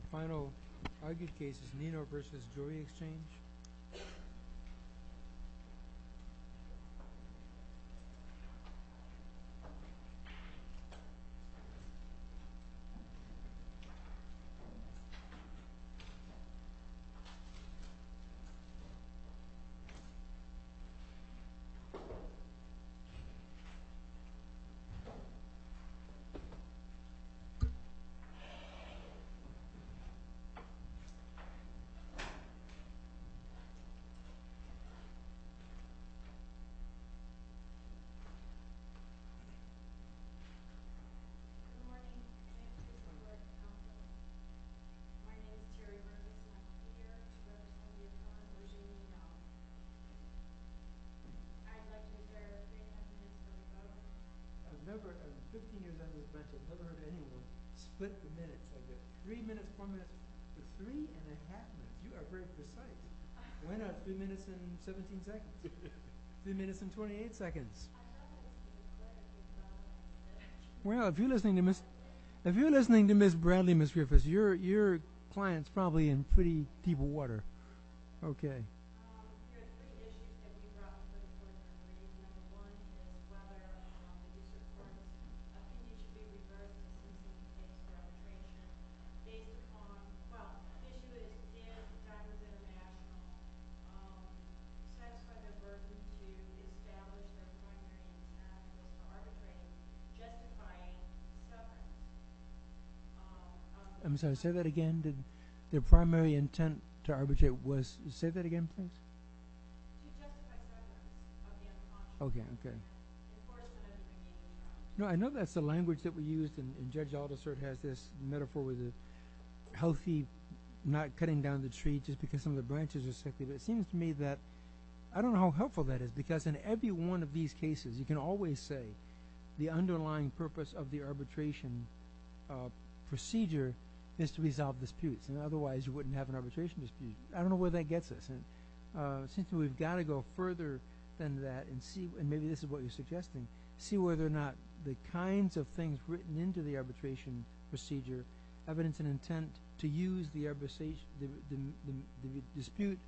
The final argued case is Nino versus Joy Exchange. Three minutes, four minutes, three and a half minutes. You are very precise. Why not three minutes and 17 seconds? Three minutes and 28 seconds. I have a question. Well, if you're listening to Ms. Bradley, Ms. Griffiths, your client's probably in pretty deep water. Okay. There are three issues that you brought to the report. I'm sorry, say that again. The primary intent to arbitrate was to say that again, please. Okay, okay. No, I know that's the language that we used, and Judge Aldersert has this metaphor with the healthy, not cutting down the tree just because some of the branches are sick. But it seems to me that I don't know how helpful that is because in every one of these cases, you can always say the underlying purpose of the arbitration procedure is to resolve disputes, and otherwise you wouldn't have an arbitration dispute. I don't know where that gets us. It seems to me we've got to go further than that and maybe this is what you're suggesting, see whether or not the kinds of things written into the arbitration procedure, evidence and intent to use the dispute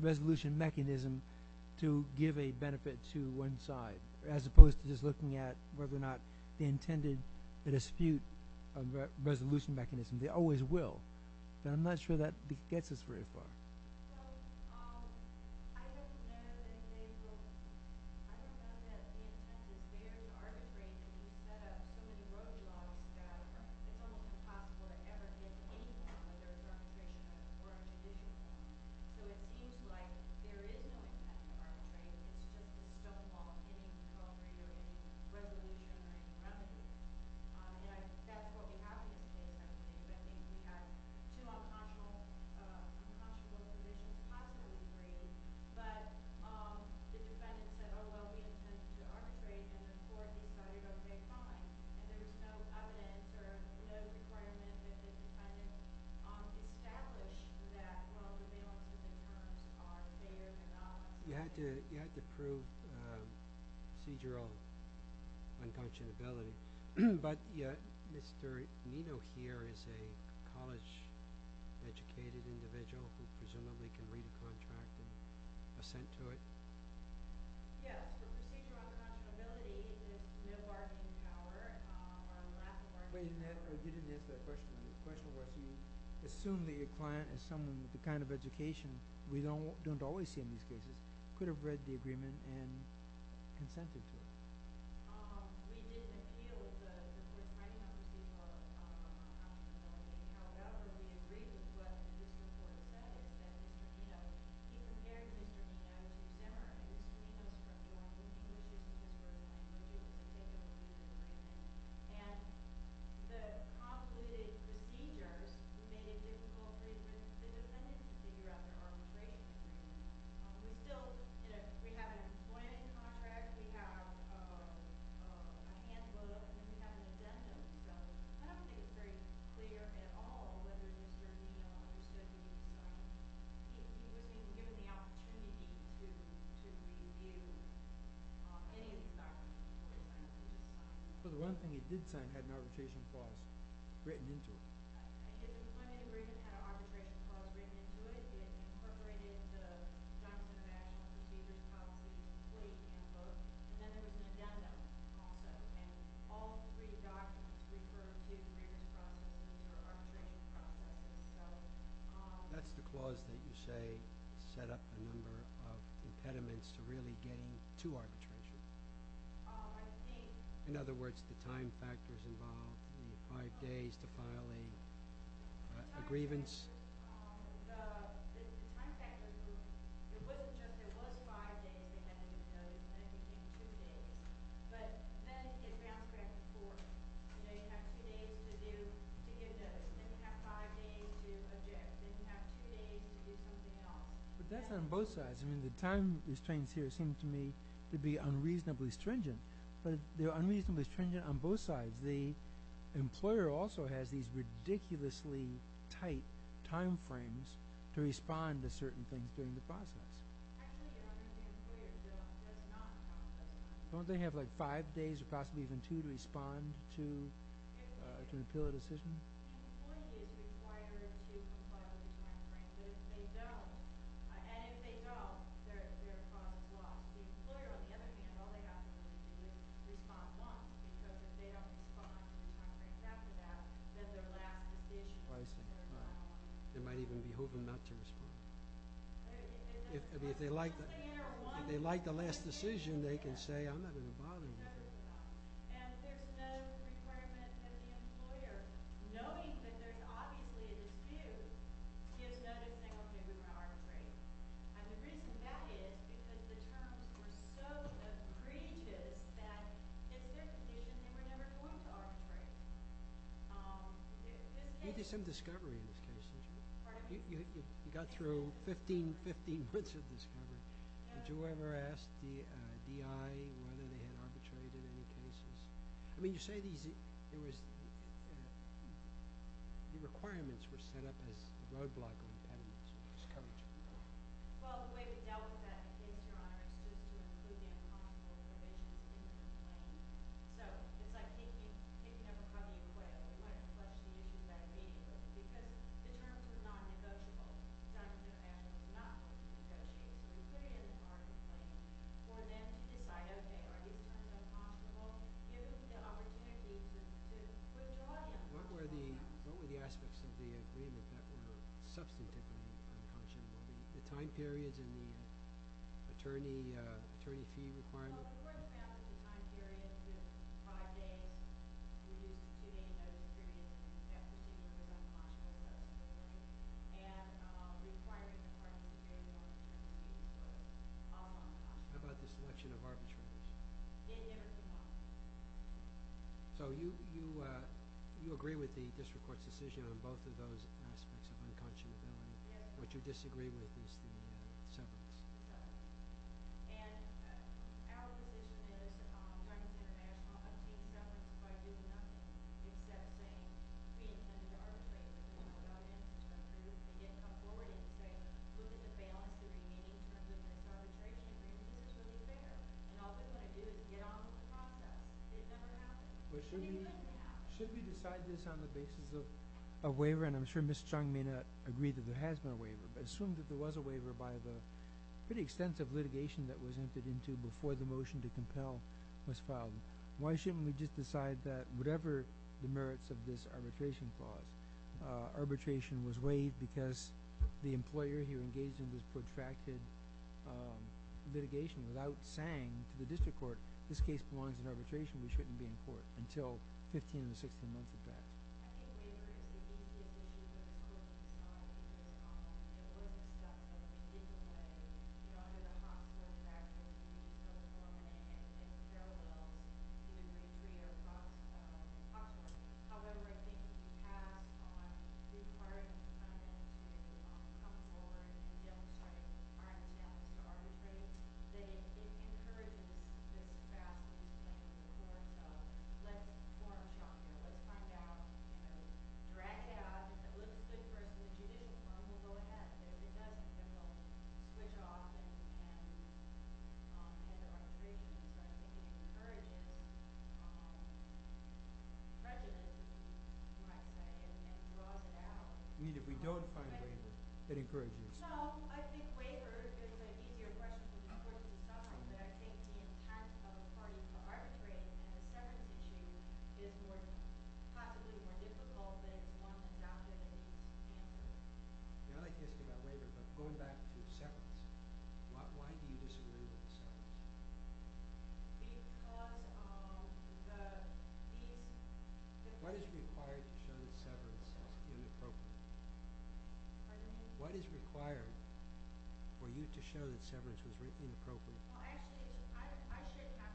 resolution mechanism to give a benefit to one side, as opposed to just looking at whether or not the intended dispute resolution mechanism, they always will. I'm not sure that gets us very far. So, I just know that they will, I just know that we expect that there's arbitration set up so many roadblocks that it's almost impossible to ever get any form of arbitration or a decision. So it seems like there is no attempt at arbitration, it's just a stonewall, it's a 12-year resolution and a remedy. And I think that's what we have in this case. I think we have two unconscionable submissions, possibly three, but the defendants said, oh, well, we have a sense to arbitrate and the court decided, okay, fine. And there's no evidence or no requirement that the defendant established that, well, the bail and remission terms are fair or not. You have to prove procedural unconscionability. But, yeah, Mr. Nino here is a college-educated individual who presumably can read the contract and assent to it. Yes, the procedural unconscionability is no bargaining power. You didn't answer that question. The question was, you assume that your client is someone with the kind of education we don't always see in these cases, could have read the agreement and consented to it. We didn't appeal to the court's right not to do more. However, we agreed with what this report says. And, you know, he prepared me for this. I was determined. And the concluded procedure, we made it difficult for the defendants to figure out their arbitration. We still, you know, we have an employment contract, we have a handbook, and we have an agenda. So I don't think it's very clear at all whether Mr. Nino or Mr. Nino was given the opportunity to review any of the documents. So the one thing he did sign had an arbitration clause written into it. Right. If the employment agreement had an arbitration clause written into it, it incorporated the document of action procedure clause into the employee's handbook. And then there was an agenda also. And all three documents refer to agreement processes or arbitration processes. So... That's the clause that you say set up a number of impediments to really getting to arbitration. I think... In other words, the time factors involved, from the five days to filing a grievance. The time factors were... It wasn't just that it was five days, it had to be those, and then it became two days. But then it bounced back and forth. You know, you have two days to do, to get those. Then you have five days to object. Then you have two days to do something else. But that's on both sides. I mean, the time restraints here seem to me to be unreasonably stringent. But they're unreasonably stringent on both sides. The employer also has these ridiculously tight time frames to respond to certain things during the process. Don't they have, like, five days, or possibly even two, to respond to an appeal or decision? I see. They might even be hoping not to respond. If they like the last decision, they can say, I'm not going to bother with it. There's some discovery in these cases. You got through 15, 15 months of discovery. Did you ever ask the DI whether they had arbitrated any cases? I mean, you say these, it was, the requirements were set up as roadblocks or impediments. Well, the way we dealt with that in the case, Your Honor, is to include the accomplishments of agency members. So, if I take you, if you ever have an acquittal, my question is, is that a negative? Because the terms are not negotiable. The time to do an acquittal is not negotiable. So you put it in the parties' hands, or then decide, okay, are these terms impossible? Give us the opportunity to withdraw them. What were the aspects of the agreement that were substantive and unconscionable? The time periods and the attorney fee requirements? Well, the court found the time period to be five days. We didn't know the period, except we did know the time period was unconscionable. And the requirements of the court were very long. How about the selection of arbitrators? It never came up. So you agree with the district court's decision on both of those aspects of unconscionability. Yes. What you disagree with is the severance. Okay. And our position is trying to get a team severance by doing nothing, except saying, gee, I need an arbitrator. You know what I mean? So you can get a couple more days there, lose the balance of the remaining terms of this arbitration, and then do this over there. And all they're going to do is get on with the process. It never happens. It usually happens. Should we decide this on the basis of a waiver? And I'm sure Ms. Chung may not agree that there has been a waiver. Assume that there was a waiver by the pretty extensive litigation that was entered into before the motion to compel was filed. Why shouldn't we just decide that whatever the merits of this arbitration clause, arbitration was waived because the employer who engaged in this protracted litigation without saying to the district court, this case belongs in arbitration, we shouldn't be in court, until 15 or 16 months have passed. I think waiver is the easiest thing to do in court. It was discussed in a different way. You know, under the hospital statute, you can go to court and say, well, you agree or not to talk to us. However, I think if you have on due course, you kind of have to come forward and be able to try to find out, so I would say that it encourages the staff to do something before the court of trial to find out, you know, drag it out, it looks good for us to do this, and we'll go ahead. If it doesn't, then we'll switch off and have the arbitration process. It encourages resolution, you might say, and draws it out. We don't find a way that encourages it. No, I think waiver is an easier question to do in court to decide, but I think the impact of calling for arbitration and a severance issue is probably more difficult than it is wanting to adopt it as a standard. I like this about waiver, but going back to severance, why do you disagree with severance? Because of the fees. Pardon me? Actually, I shouldn't have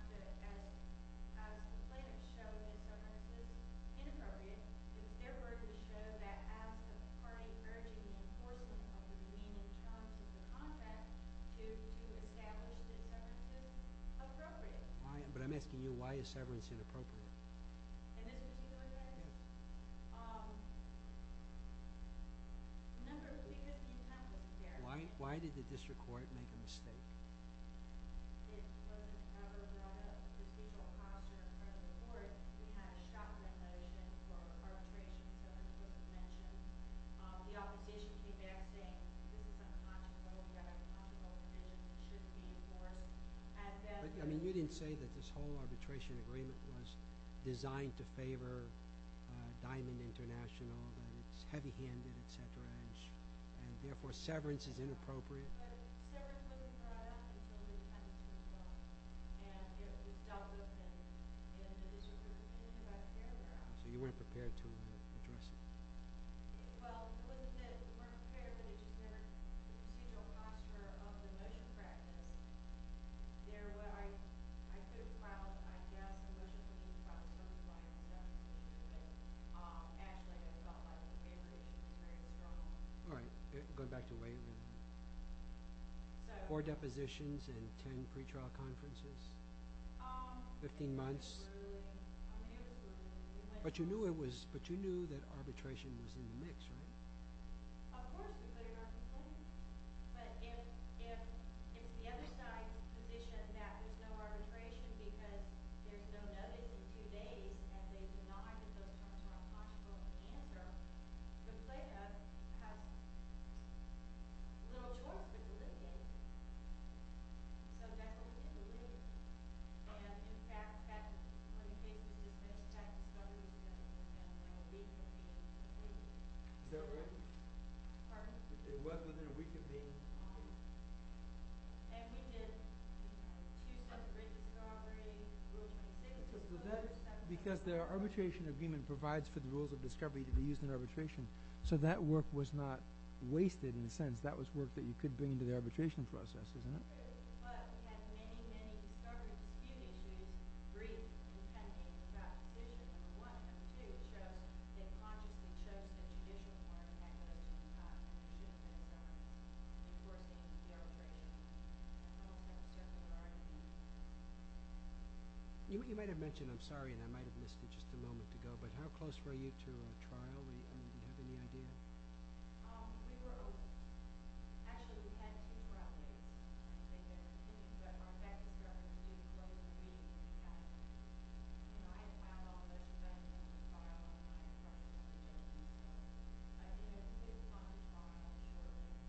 to explain and show that severance is inappropriate. It's their word to show that as a party urging the enforcement of the demeaning terms of the contract to establish that severance is appropriate. But I'm asking you, why is severance inappropriate? And this is a similar question. Why did the district court make a mistake? You didn't say that this whole arbitration agreement was designed to favor Diamond International, that it's heavy-handed, et cetera, and therefore severance is inappropriate. So you weren't prepared to address it. All right, going back to waiver. Four depositions and ten pretrial conferences? Fifteen months? But you knew that arbitration was in the mix, right? And they denied it, so it's not a possible answer. The plaintiffs have no choice but to litigation. So that's what we did. And in fact, that's when the case was dismissed. That's when the case was dismissed. Is that right? Pardon? It was within a week of being dismissed. And we did two separate discoveries. Because the arbitration agreement provides for the rules of discovery to be used in arbitration, so that work was not wasted in a sense. That was work that you could bring into the arbitration process, isn't it? You might have mentioned, I'm sorry, and I might have missed it just a moment ago, but how close were you to a trial? Do you have any idea?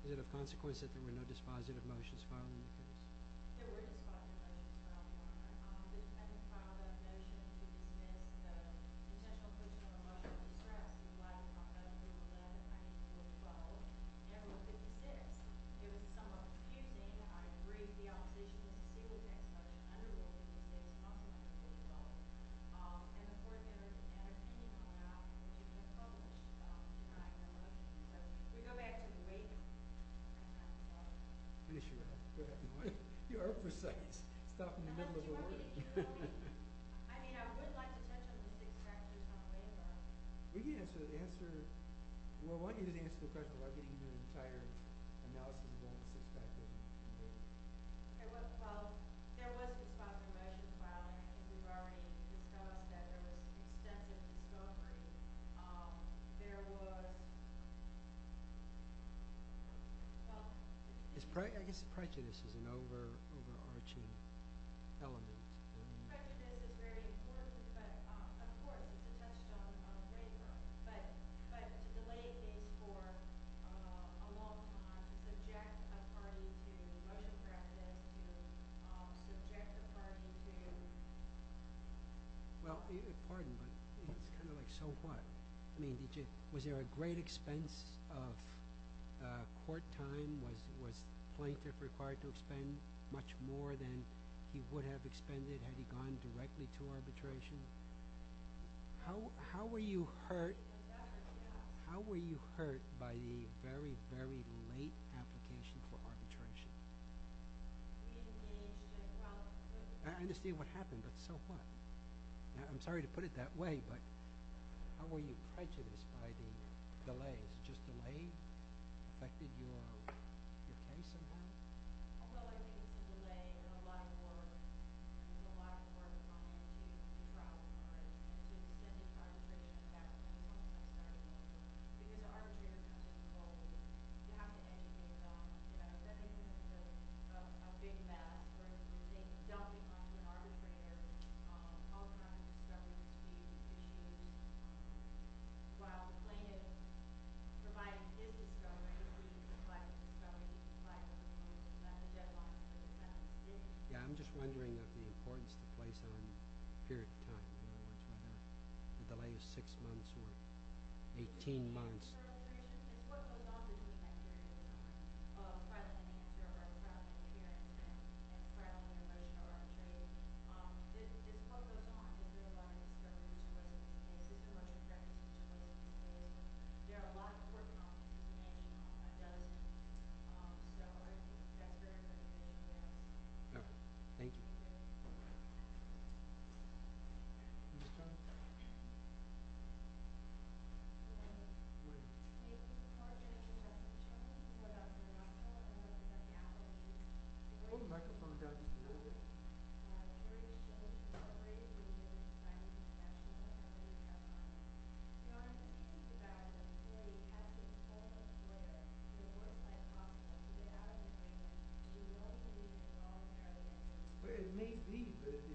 Is it a consequence that there were no dispositive motions filed in the case? I think the final definition of dispositive is that a potential person on the right was disrespected by the author of the rule of law in 1912. There was no dispositive. It was somewhat confusing. I agree. The opposition to the rule of law was underrated, because there was nothing under the rule of law. And of course, there was an opinion on that, and there was no problem with the rule of law. I don't know. Can we go back to the wait? Finish your answer. Go ahead. You're up for a second. I mean, I would like to touch on the six practices on the way back. We can answer the answer. We'll want you to answer the question without getting into an entire analysis of all the six practices. There was dispositive motions filed, and we've already discovered that there was extensive discovery. There was – well – I guess prejudice is an overarching element. Prejudice is very important. But, of course, we've touched on the way back. But delaying things for a long time to subject a party to motion practice, to subject the party to – Well, pardon, but it's kind of like so what? I mean, was there a great expense of court time? Was Plaintiff required to expend much more than he would have expended had he gone directly to arbitration? How were you hurt by the very, very late application for arbitration? I understand what happened, but so what? I'm sorry to put it that way, but how were you prejudiced by the delays? Was it just delay that affected your case somehow? Well, I think it was the delay and a lot more – there was a lot more responsibility for our party to subject the party to action once that started. Because the arbitrators have to be bold. You have to educate them about it. That is a big matter, but they don't become the arbitrators all the time. That was the issue. While Plaintiff provided his discovery, did he provide his discovery? Did he provide his discovery? Yeah, I'm just wondering about the importance of the place on period of time. The delay is six months or 18 months. What goes on between that period of time? I'm trying to think. I'm trying to think about it. It's what goes on. It's the delay. It's the delay. There are a lot of court problems. There are a lot of court problems. So I think that's very, very clear. Thank you. Thank you. The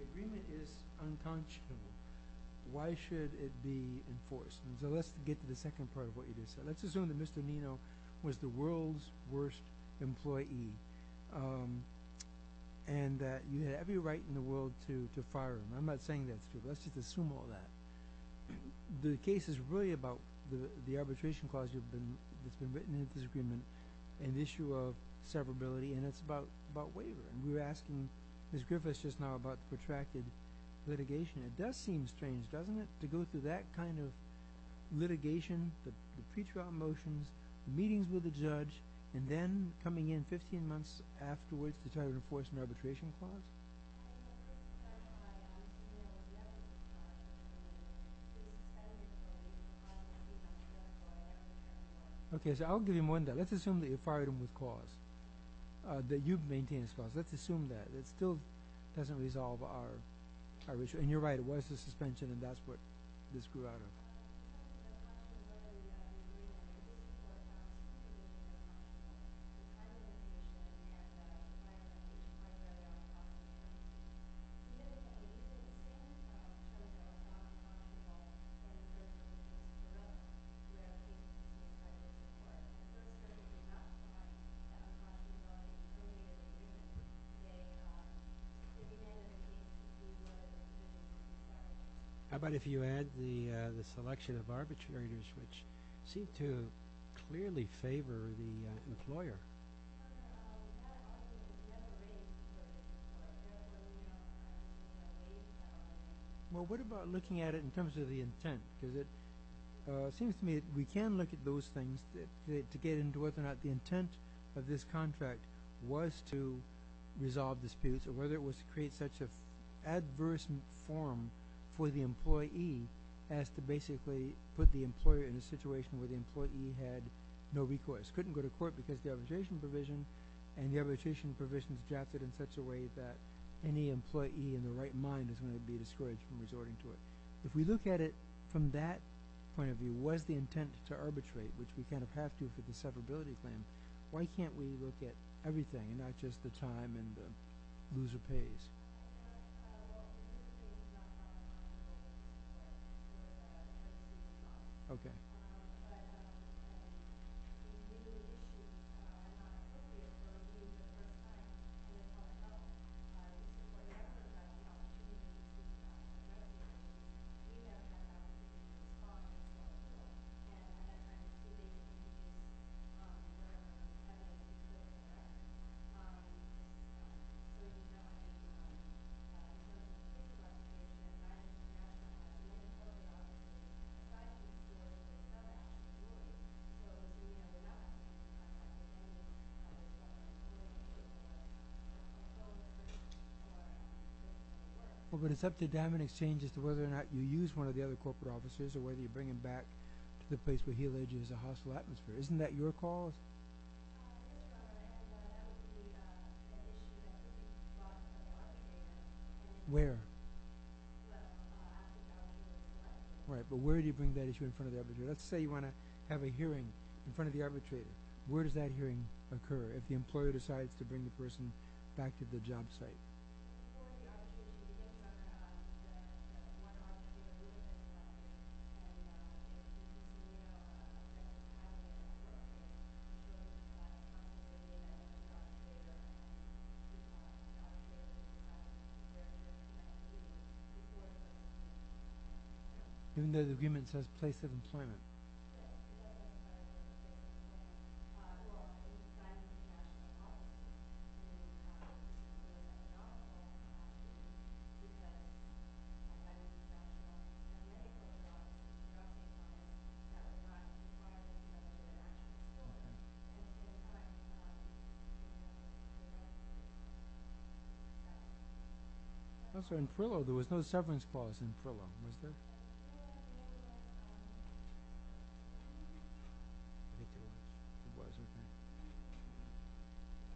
agreement is unconscionable. Why should it be enforced? Let's get to the second part of what you just said. Let's assume that Mr. Nino was the world's worst employee and that you had every right in the world to fire him. I'm not saying that's true. Let's just assume all that. The case is really about the arbitration clause that's been written into this agreement and the issue of severability, and it's about waiver. And we were asking Ms. Griffiths just now about the protracted litigation. It does seem strange, doesn't it, to go through that kind of litigation, the pre-trial motions, the meetings with the judge, and then coming in 15 months afterwards to try to enforce an arbitration clause? I think it's because I'm familiar with the evidence process. It's kind of the same kind of thing that I'm familiar with. Okay, so I'll give you more than that. Let's assume that you fired him with cause, that you've maintained his clause. Let's assume that. It still doesn't resolve our issue. And you're right, it was the suspension, and that's what this grew out of. How about if you add the suspension? which seem to clearly favor the employer. Well, what about looking at it in terms of the intent? Because it seems to me that we can look at those things to get into whether or not the intent of this contract was to resolve disputes, or whether it was to create such an adverse form for the employee as to basically put the employer in a situation where the employee had no recourse, couldn't go to court because of the arbitration provision, and the arbitration provision is drafted in such a way that any employee in the right mind is going to be discouraged from resorting to it. If we look at it from that point of view, was the intent to arbitrate, which we kind of have to for the severability claim, why can't we look at everything not just the time and the loser pays? Well, but it's up to diamond exchange as to whether or not you use one of the other corporate officers or whether you bring them back to the place where the issue is brought to the arbitrator. Where? Well, after the arbitration. Right, but where do you bring that issue in front of the arbitrator? Let's say you want to have a hearing in front of the arbitrator. Where does that hearing occur if the employer decides to bring the person back to the job site? For the arbitration, you're going to have to have one arbitrator who is going to come to you, and you're going to have to have that person who is going to come to you and talk to you about the arbitration process and what you're going to have to do before the arbitration. Even though the agreement says place of employment? Yes. In Frillo, there was no severance clause in Frillo, was there? I think there was. There was, I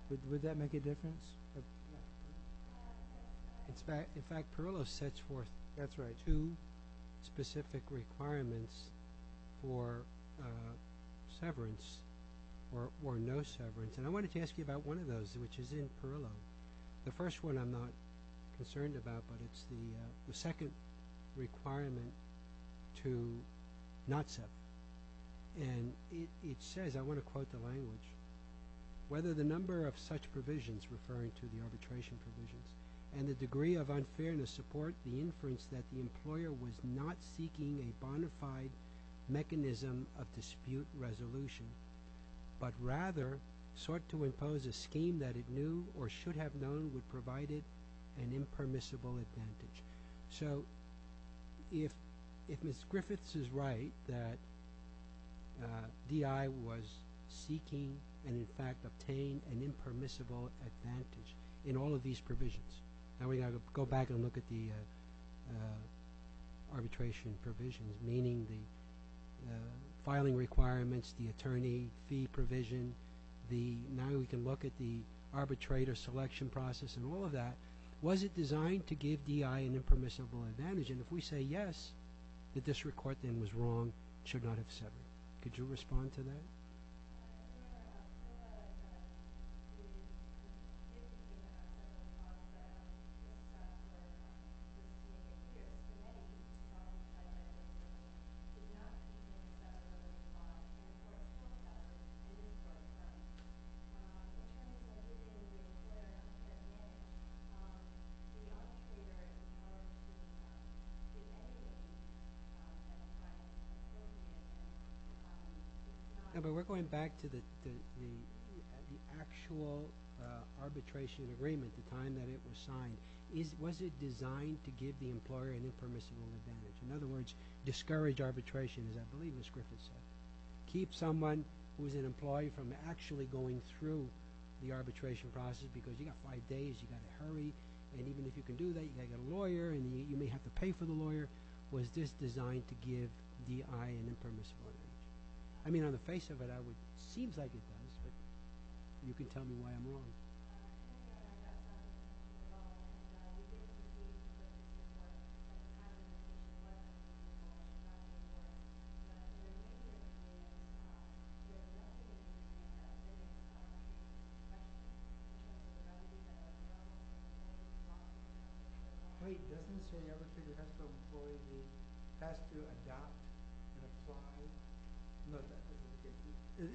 think. Would that make a difference? No. In fact, Frillo sets forth two specific requirements for severance or no severance, and I wanted to ask you about one of those, which is in Frillo. The first one I'm not concerned about, but it's the second requirement to not sever. And it says, I want to quote the language, whether the number of such provisions, referring to the arbitration provisions, and the degree of unfairness support the inference that the employer was not seeking a bona fide mechanism of dispute resolution, but rather sought to impose a scheme that it knew or should have known would provide it an impermissible advantage. So if Ms. Griffiths is right that DI was seeking and in fact obtained an impermissible advantage in all of these provisions, now we've got to go back and look at the arbitration provisions, meaning the filing requirements, the attorney fee provision, now we can look at the arbitrator selection process and all of that. Was it designed to give DI an impermissible advantage? And if we say yes, the district court then was wrong, should not have severed. Could you respond to that? Yes. No, but we're going back to the actual arbitration agreement, the time that it was signed. Was it designed to give the employer an impermissible advantage? In other words, discourage arbitration, as I believe Ms. Griffiths said. Keep someone who is an employee from actually going through the arbitration process because you've got five days, you've got to hurry, and even if you can do that, you've got to get a lawyer and you may have to pay for the lawyer. Was this designed to give DI an impermissible advantage? I mean, on the face of it, it seems like it does, but you can tell me why I'm wrong.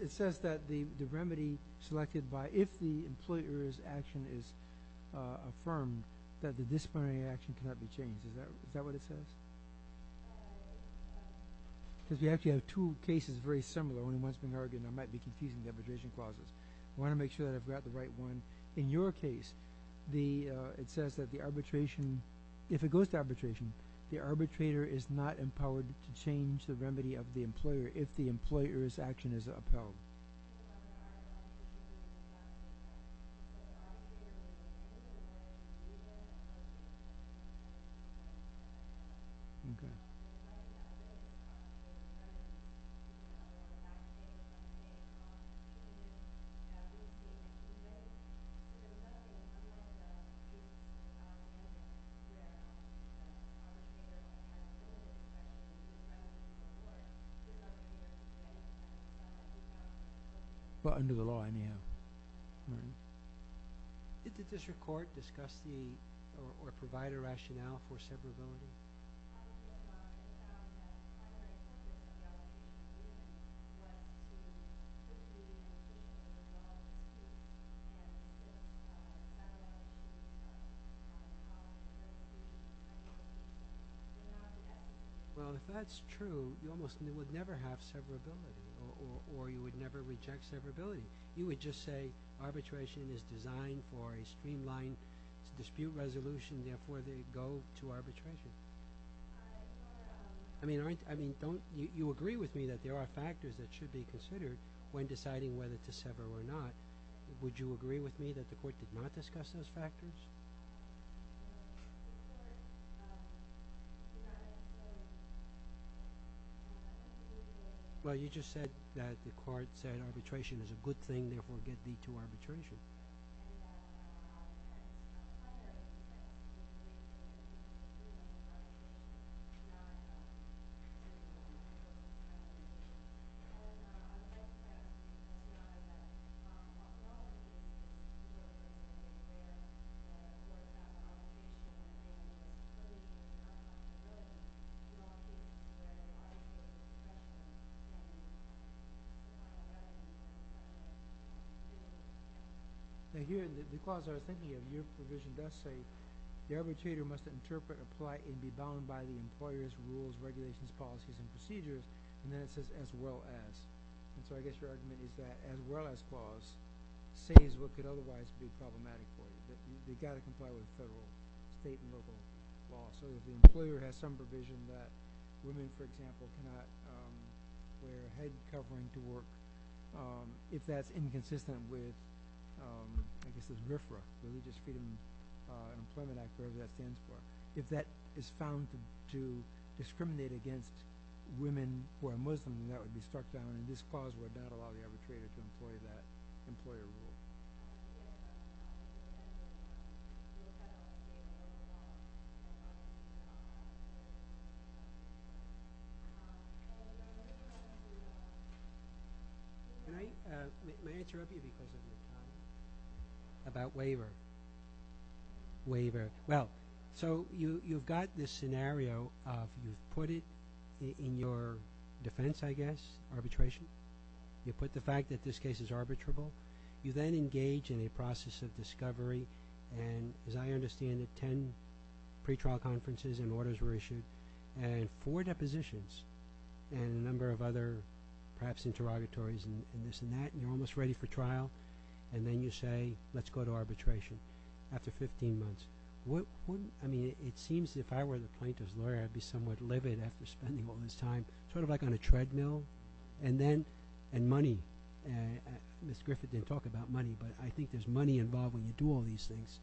It says that the remedy selected by if the employer's action is affirmed, that the disciplinary action cannot be changed. Is that what it says? Because we actually have two cases very similar. One of them has been argued, and I might be confusing the arbitration clauses. I want to make sure that I've got the right one. In your case, it says that the arbitration, if it goes to arbitration, the arbitrator is not empowered to change the remedy of the employer if the employer's action is upheld. Well, under the law, anyhow. Did the district court discuss or provide a rationale for severability? Well, if that's true, you almost would never have severability, or you would never reject severability. You would just say arbitration is designed for a streamlined dispute resolution, therefore they go to arbitration. I mean, you agree with me that there are factors that should be considered when deciding whether to sever or not. Would you agree with me that the court did not discuss those factors? Well, you just said that the court said arbitration is a good thing, therefore it would lead to arbitration. Thank you. The clause I was thinking of, your provision does say the arbitrator must interpret, apply, and be bound by the employer's rules, regulations, policies, and procedures, and then it says as well as. And so I guess your argument is that as well as clause says what could otherwise be problematic for you, that you've got to comply with federal, state, and local law. So if the employer has some provision that women, for example, cannot wear head covering to work, if that's inconsistent with, I guess it's RFRA, Religious Freedom Employment Act, whatever that stands for, if that is found to discriminate against women who are Muslim, then that would be struck down, and this clause would not allow the arbitrator to employ that employer rule. Can I interrupt you because of the time? About waiver. Waiver. Well, so you've got this scenario of you've put it in your defense, I guess, arbitration. You put the fact that this case is arbitrable. You then engage in a process of discovery, and as I understand it, 10 pretrial conferences and orders were issued, and four depositions and a number of other perhaps interrogatories and this and that, and you're almost ready for trial, and then you say let's go to arbitration after 15 months. I mean, it seems if I were the plaintiff's lawyer, I'd be somewhat livid after spending all this time sort of like on a treadmill, and then money. Ms. Griffith didn't talk about money, but I think there's money involved when you do all these things,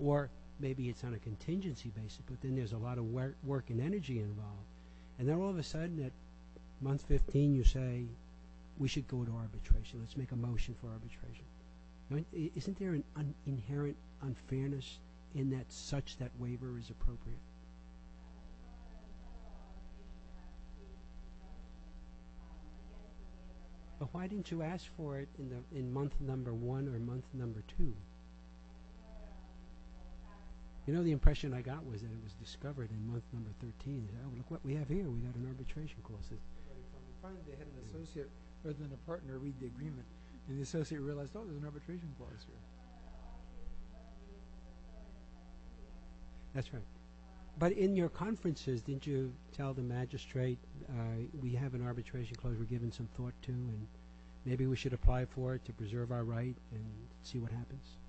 or maybe it's on a contingency basis, but then there's a lot of work and energy involved, and then all of a sudden at month 15 you say we should go to arbitration. Let's make a motion for arbitration. Isn't there an inherent unfairness in that such that waiver is appropriate? But why didn't you ask for it in month number one or month number two? You know, the impression I got was that it was discovered in month number 13. Look what we have here. We have an arbitration clause. Finally they had an associate rather than a partner read the agreement, and the associate realized, oh, there's an arbitration clause here. That's right. But in your conferences, didn't you tell the magistrate, we have an arbitration clause we're giving some thought to, and maybe we should apply for it to preserve our right and see what happens? Okay.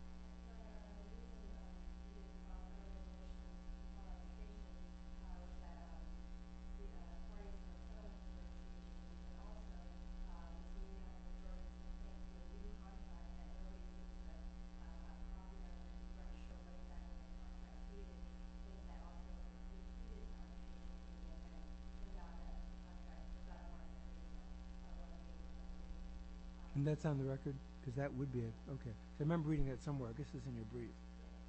And that's on the record? Because that would be it. Okay. I remember reading it somewhere. I guess it was in your brief. Okay. Okay. Okay.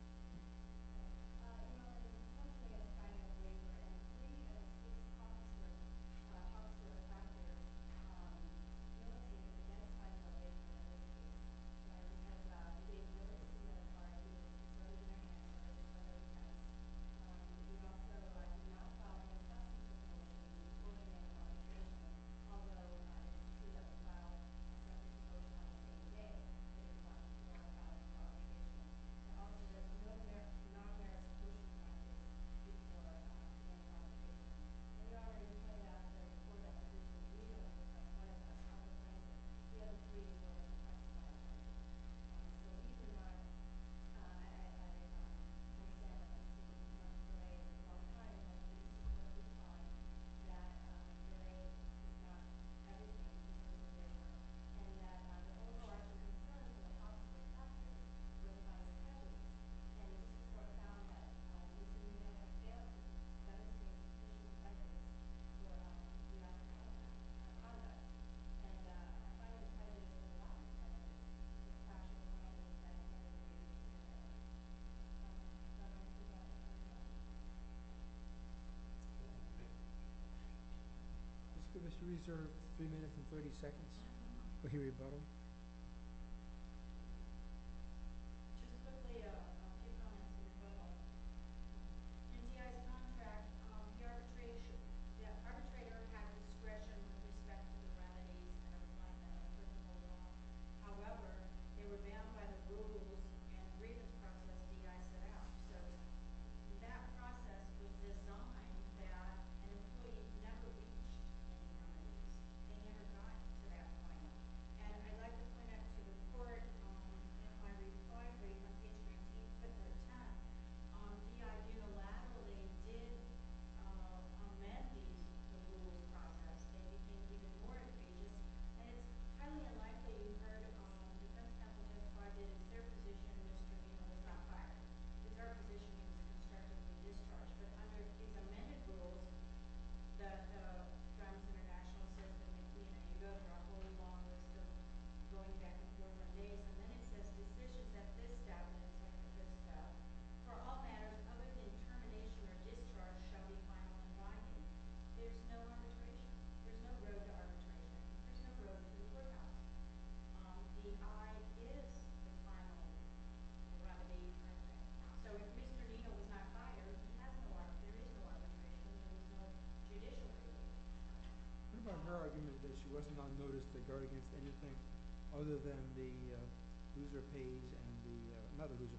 Let's reserve three minutes and 30 seconds. We'll hear your button.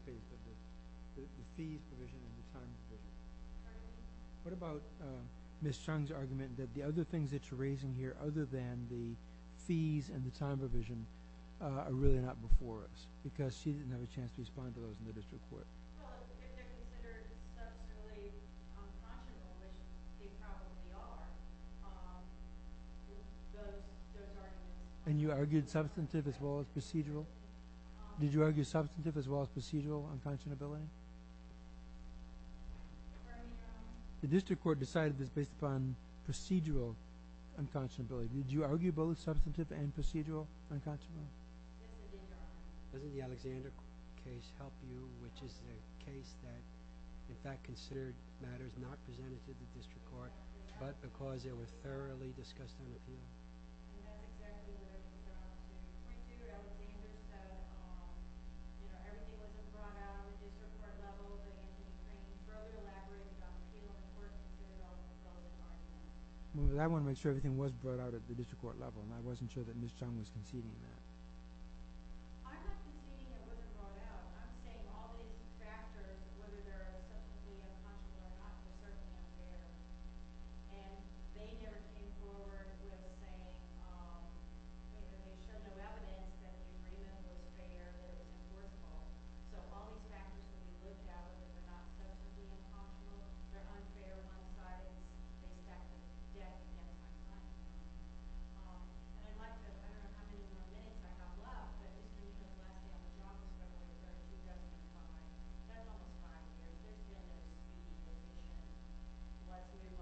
Okay. Okay. Okay. What about Ms. Chang's argument that the other things that you're raising here other than the fees and the time provision are really not before us? Because she didn't have a chance to respond to those in the district court. And you argued substantive as well as procedural? Did you argue substantive as well as procedural unconscionability? The district court decided this based upon procedural unconscionability. Did you argue both substantive and procedural unconscionability? Doesn't the Alexander case help you, which is a case that in fact considered matters not presented to the district court but because they were thoroughly discussed on appeal? Was it brought out at the district court level? Were there any constraints? Was it elaborated on the appeal on the court? I'm not conceding that it wasn't brought out. I'm saying all these factors, whether they're substantively unconscionable or not, were certainly unfair. And they never came forward with a saying that they showed no evidence that the agreement was fair or that it was enforceable. So all these factors can be looked at, whether they're not substantively unconscionable, they're unfair and unscinded, and in fact, it's dead and untimely. And I'd like to, I don't know how many more minutes I have left, but I do think that the last thing I was going to say was that in 2005, several of the five years, there's been a huge division. What do you want? Is there a resolution? Is there something that the government can't do?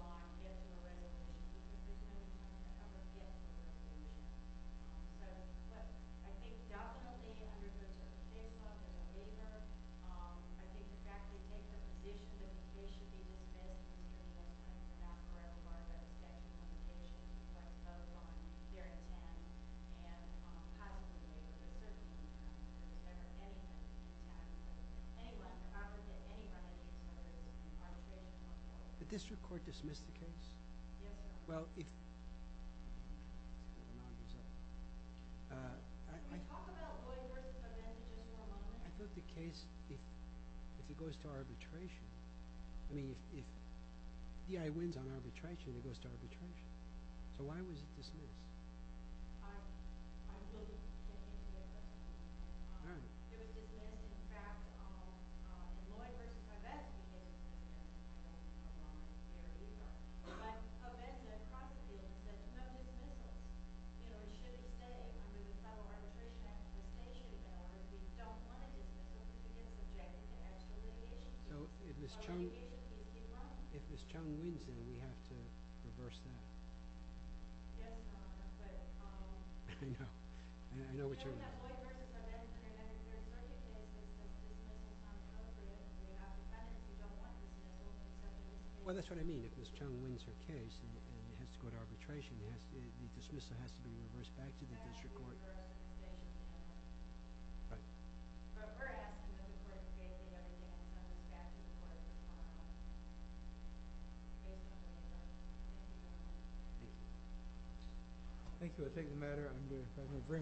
So, but I think definitely under the state law, there's a waiver. I think the fact that we take the position that they should be limited in any way, that's not correct, as far as I understand the implications of what goes on here in Kansas and how to deal with the circumstances in Kansas, if there's any kind of impact. Anyway, I would say anybody that's included ought to be able to come forward. Did the district court dismiss the case? Yes, it did. Well, if... Can you talk about Loy versus Ovenda just for a moment? I thought the case, if it goes to arbitration, I mean, if DI wins on arbitration, it goes to arbitration. So why was it dismissed? I believe it was dismissed. It was dismissed in fact on Loy versus Ovenda. That's a long period of time. But Ovenda prosecuted it. There's no dismissal. You know, it shouldn't stay. I mean, it's not an arbitration accusation, but we don't want to dismiss it. We just object to the actual litigation. So if Ms. Chung wins, then we have to reverse that. Yes, but... I know. I know what you mean. I think that Loy versus Ovenda Well, that's what I mean. If Ms. Chung wins her case and it has to go to arbitration, the dismissal has to be reversed back to the district court. Thank you. I think the matter is very important.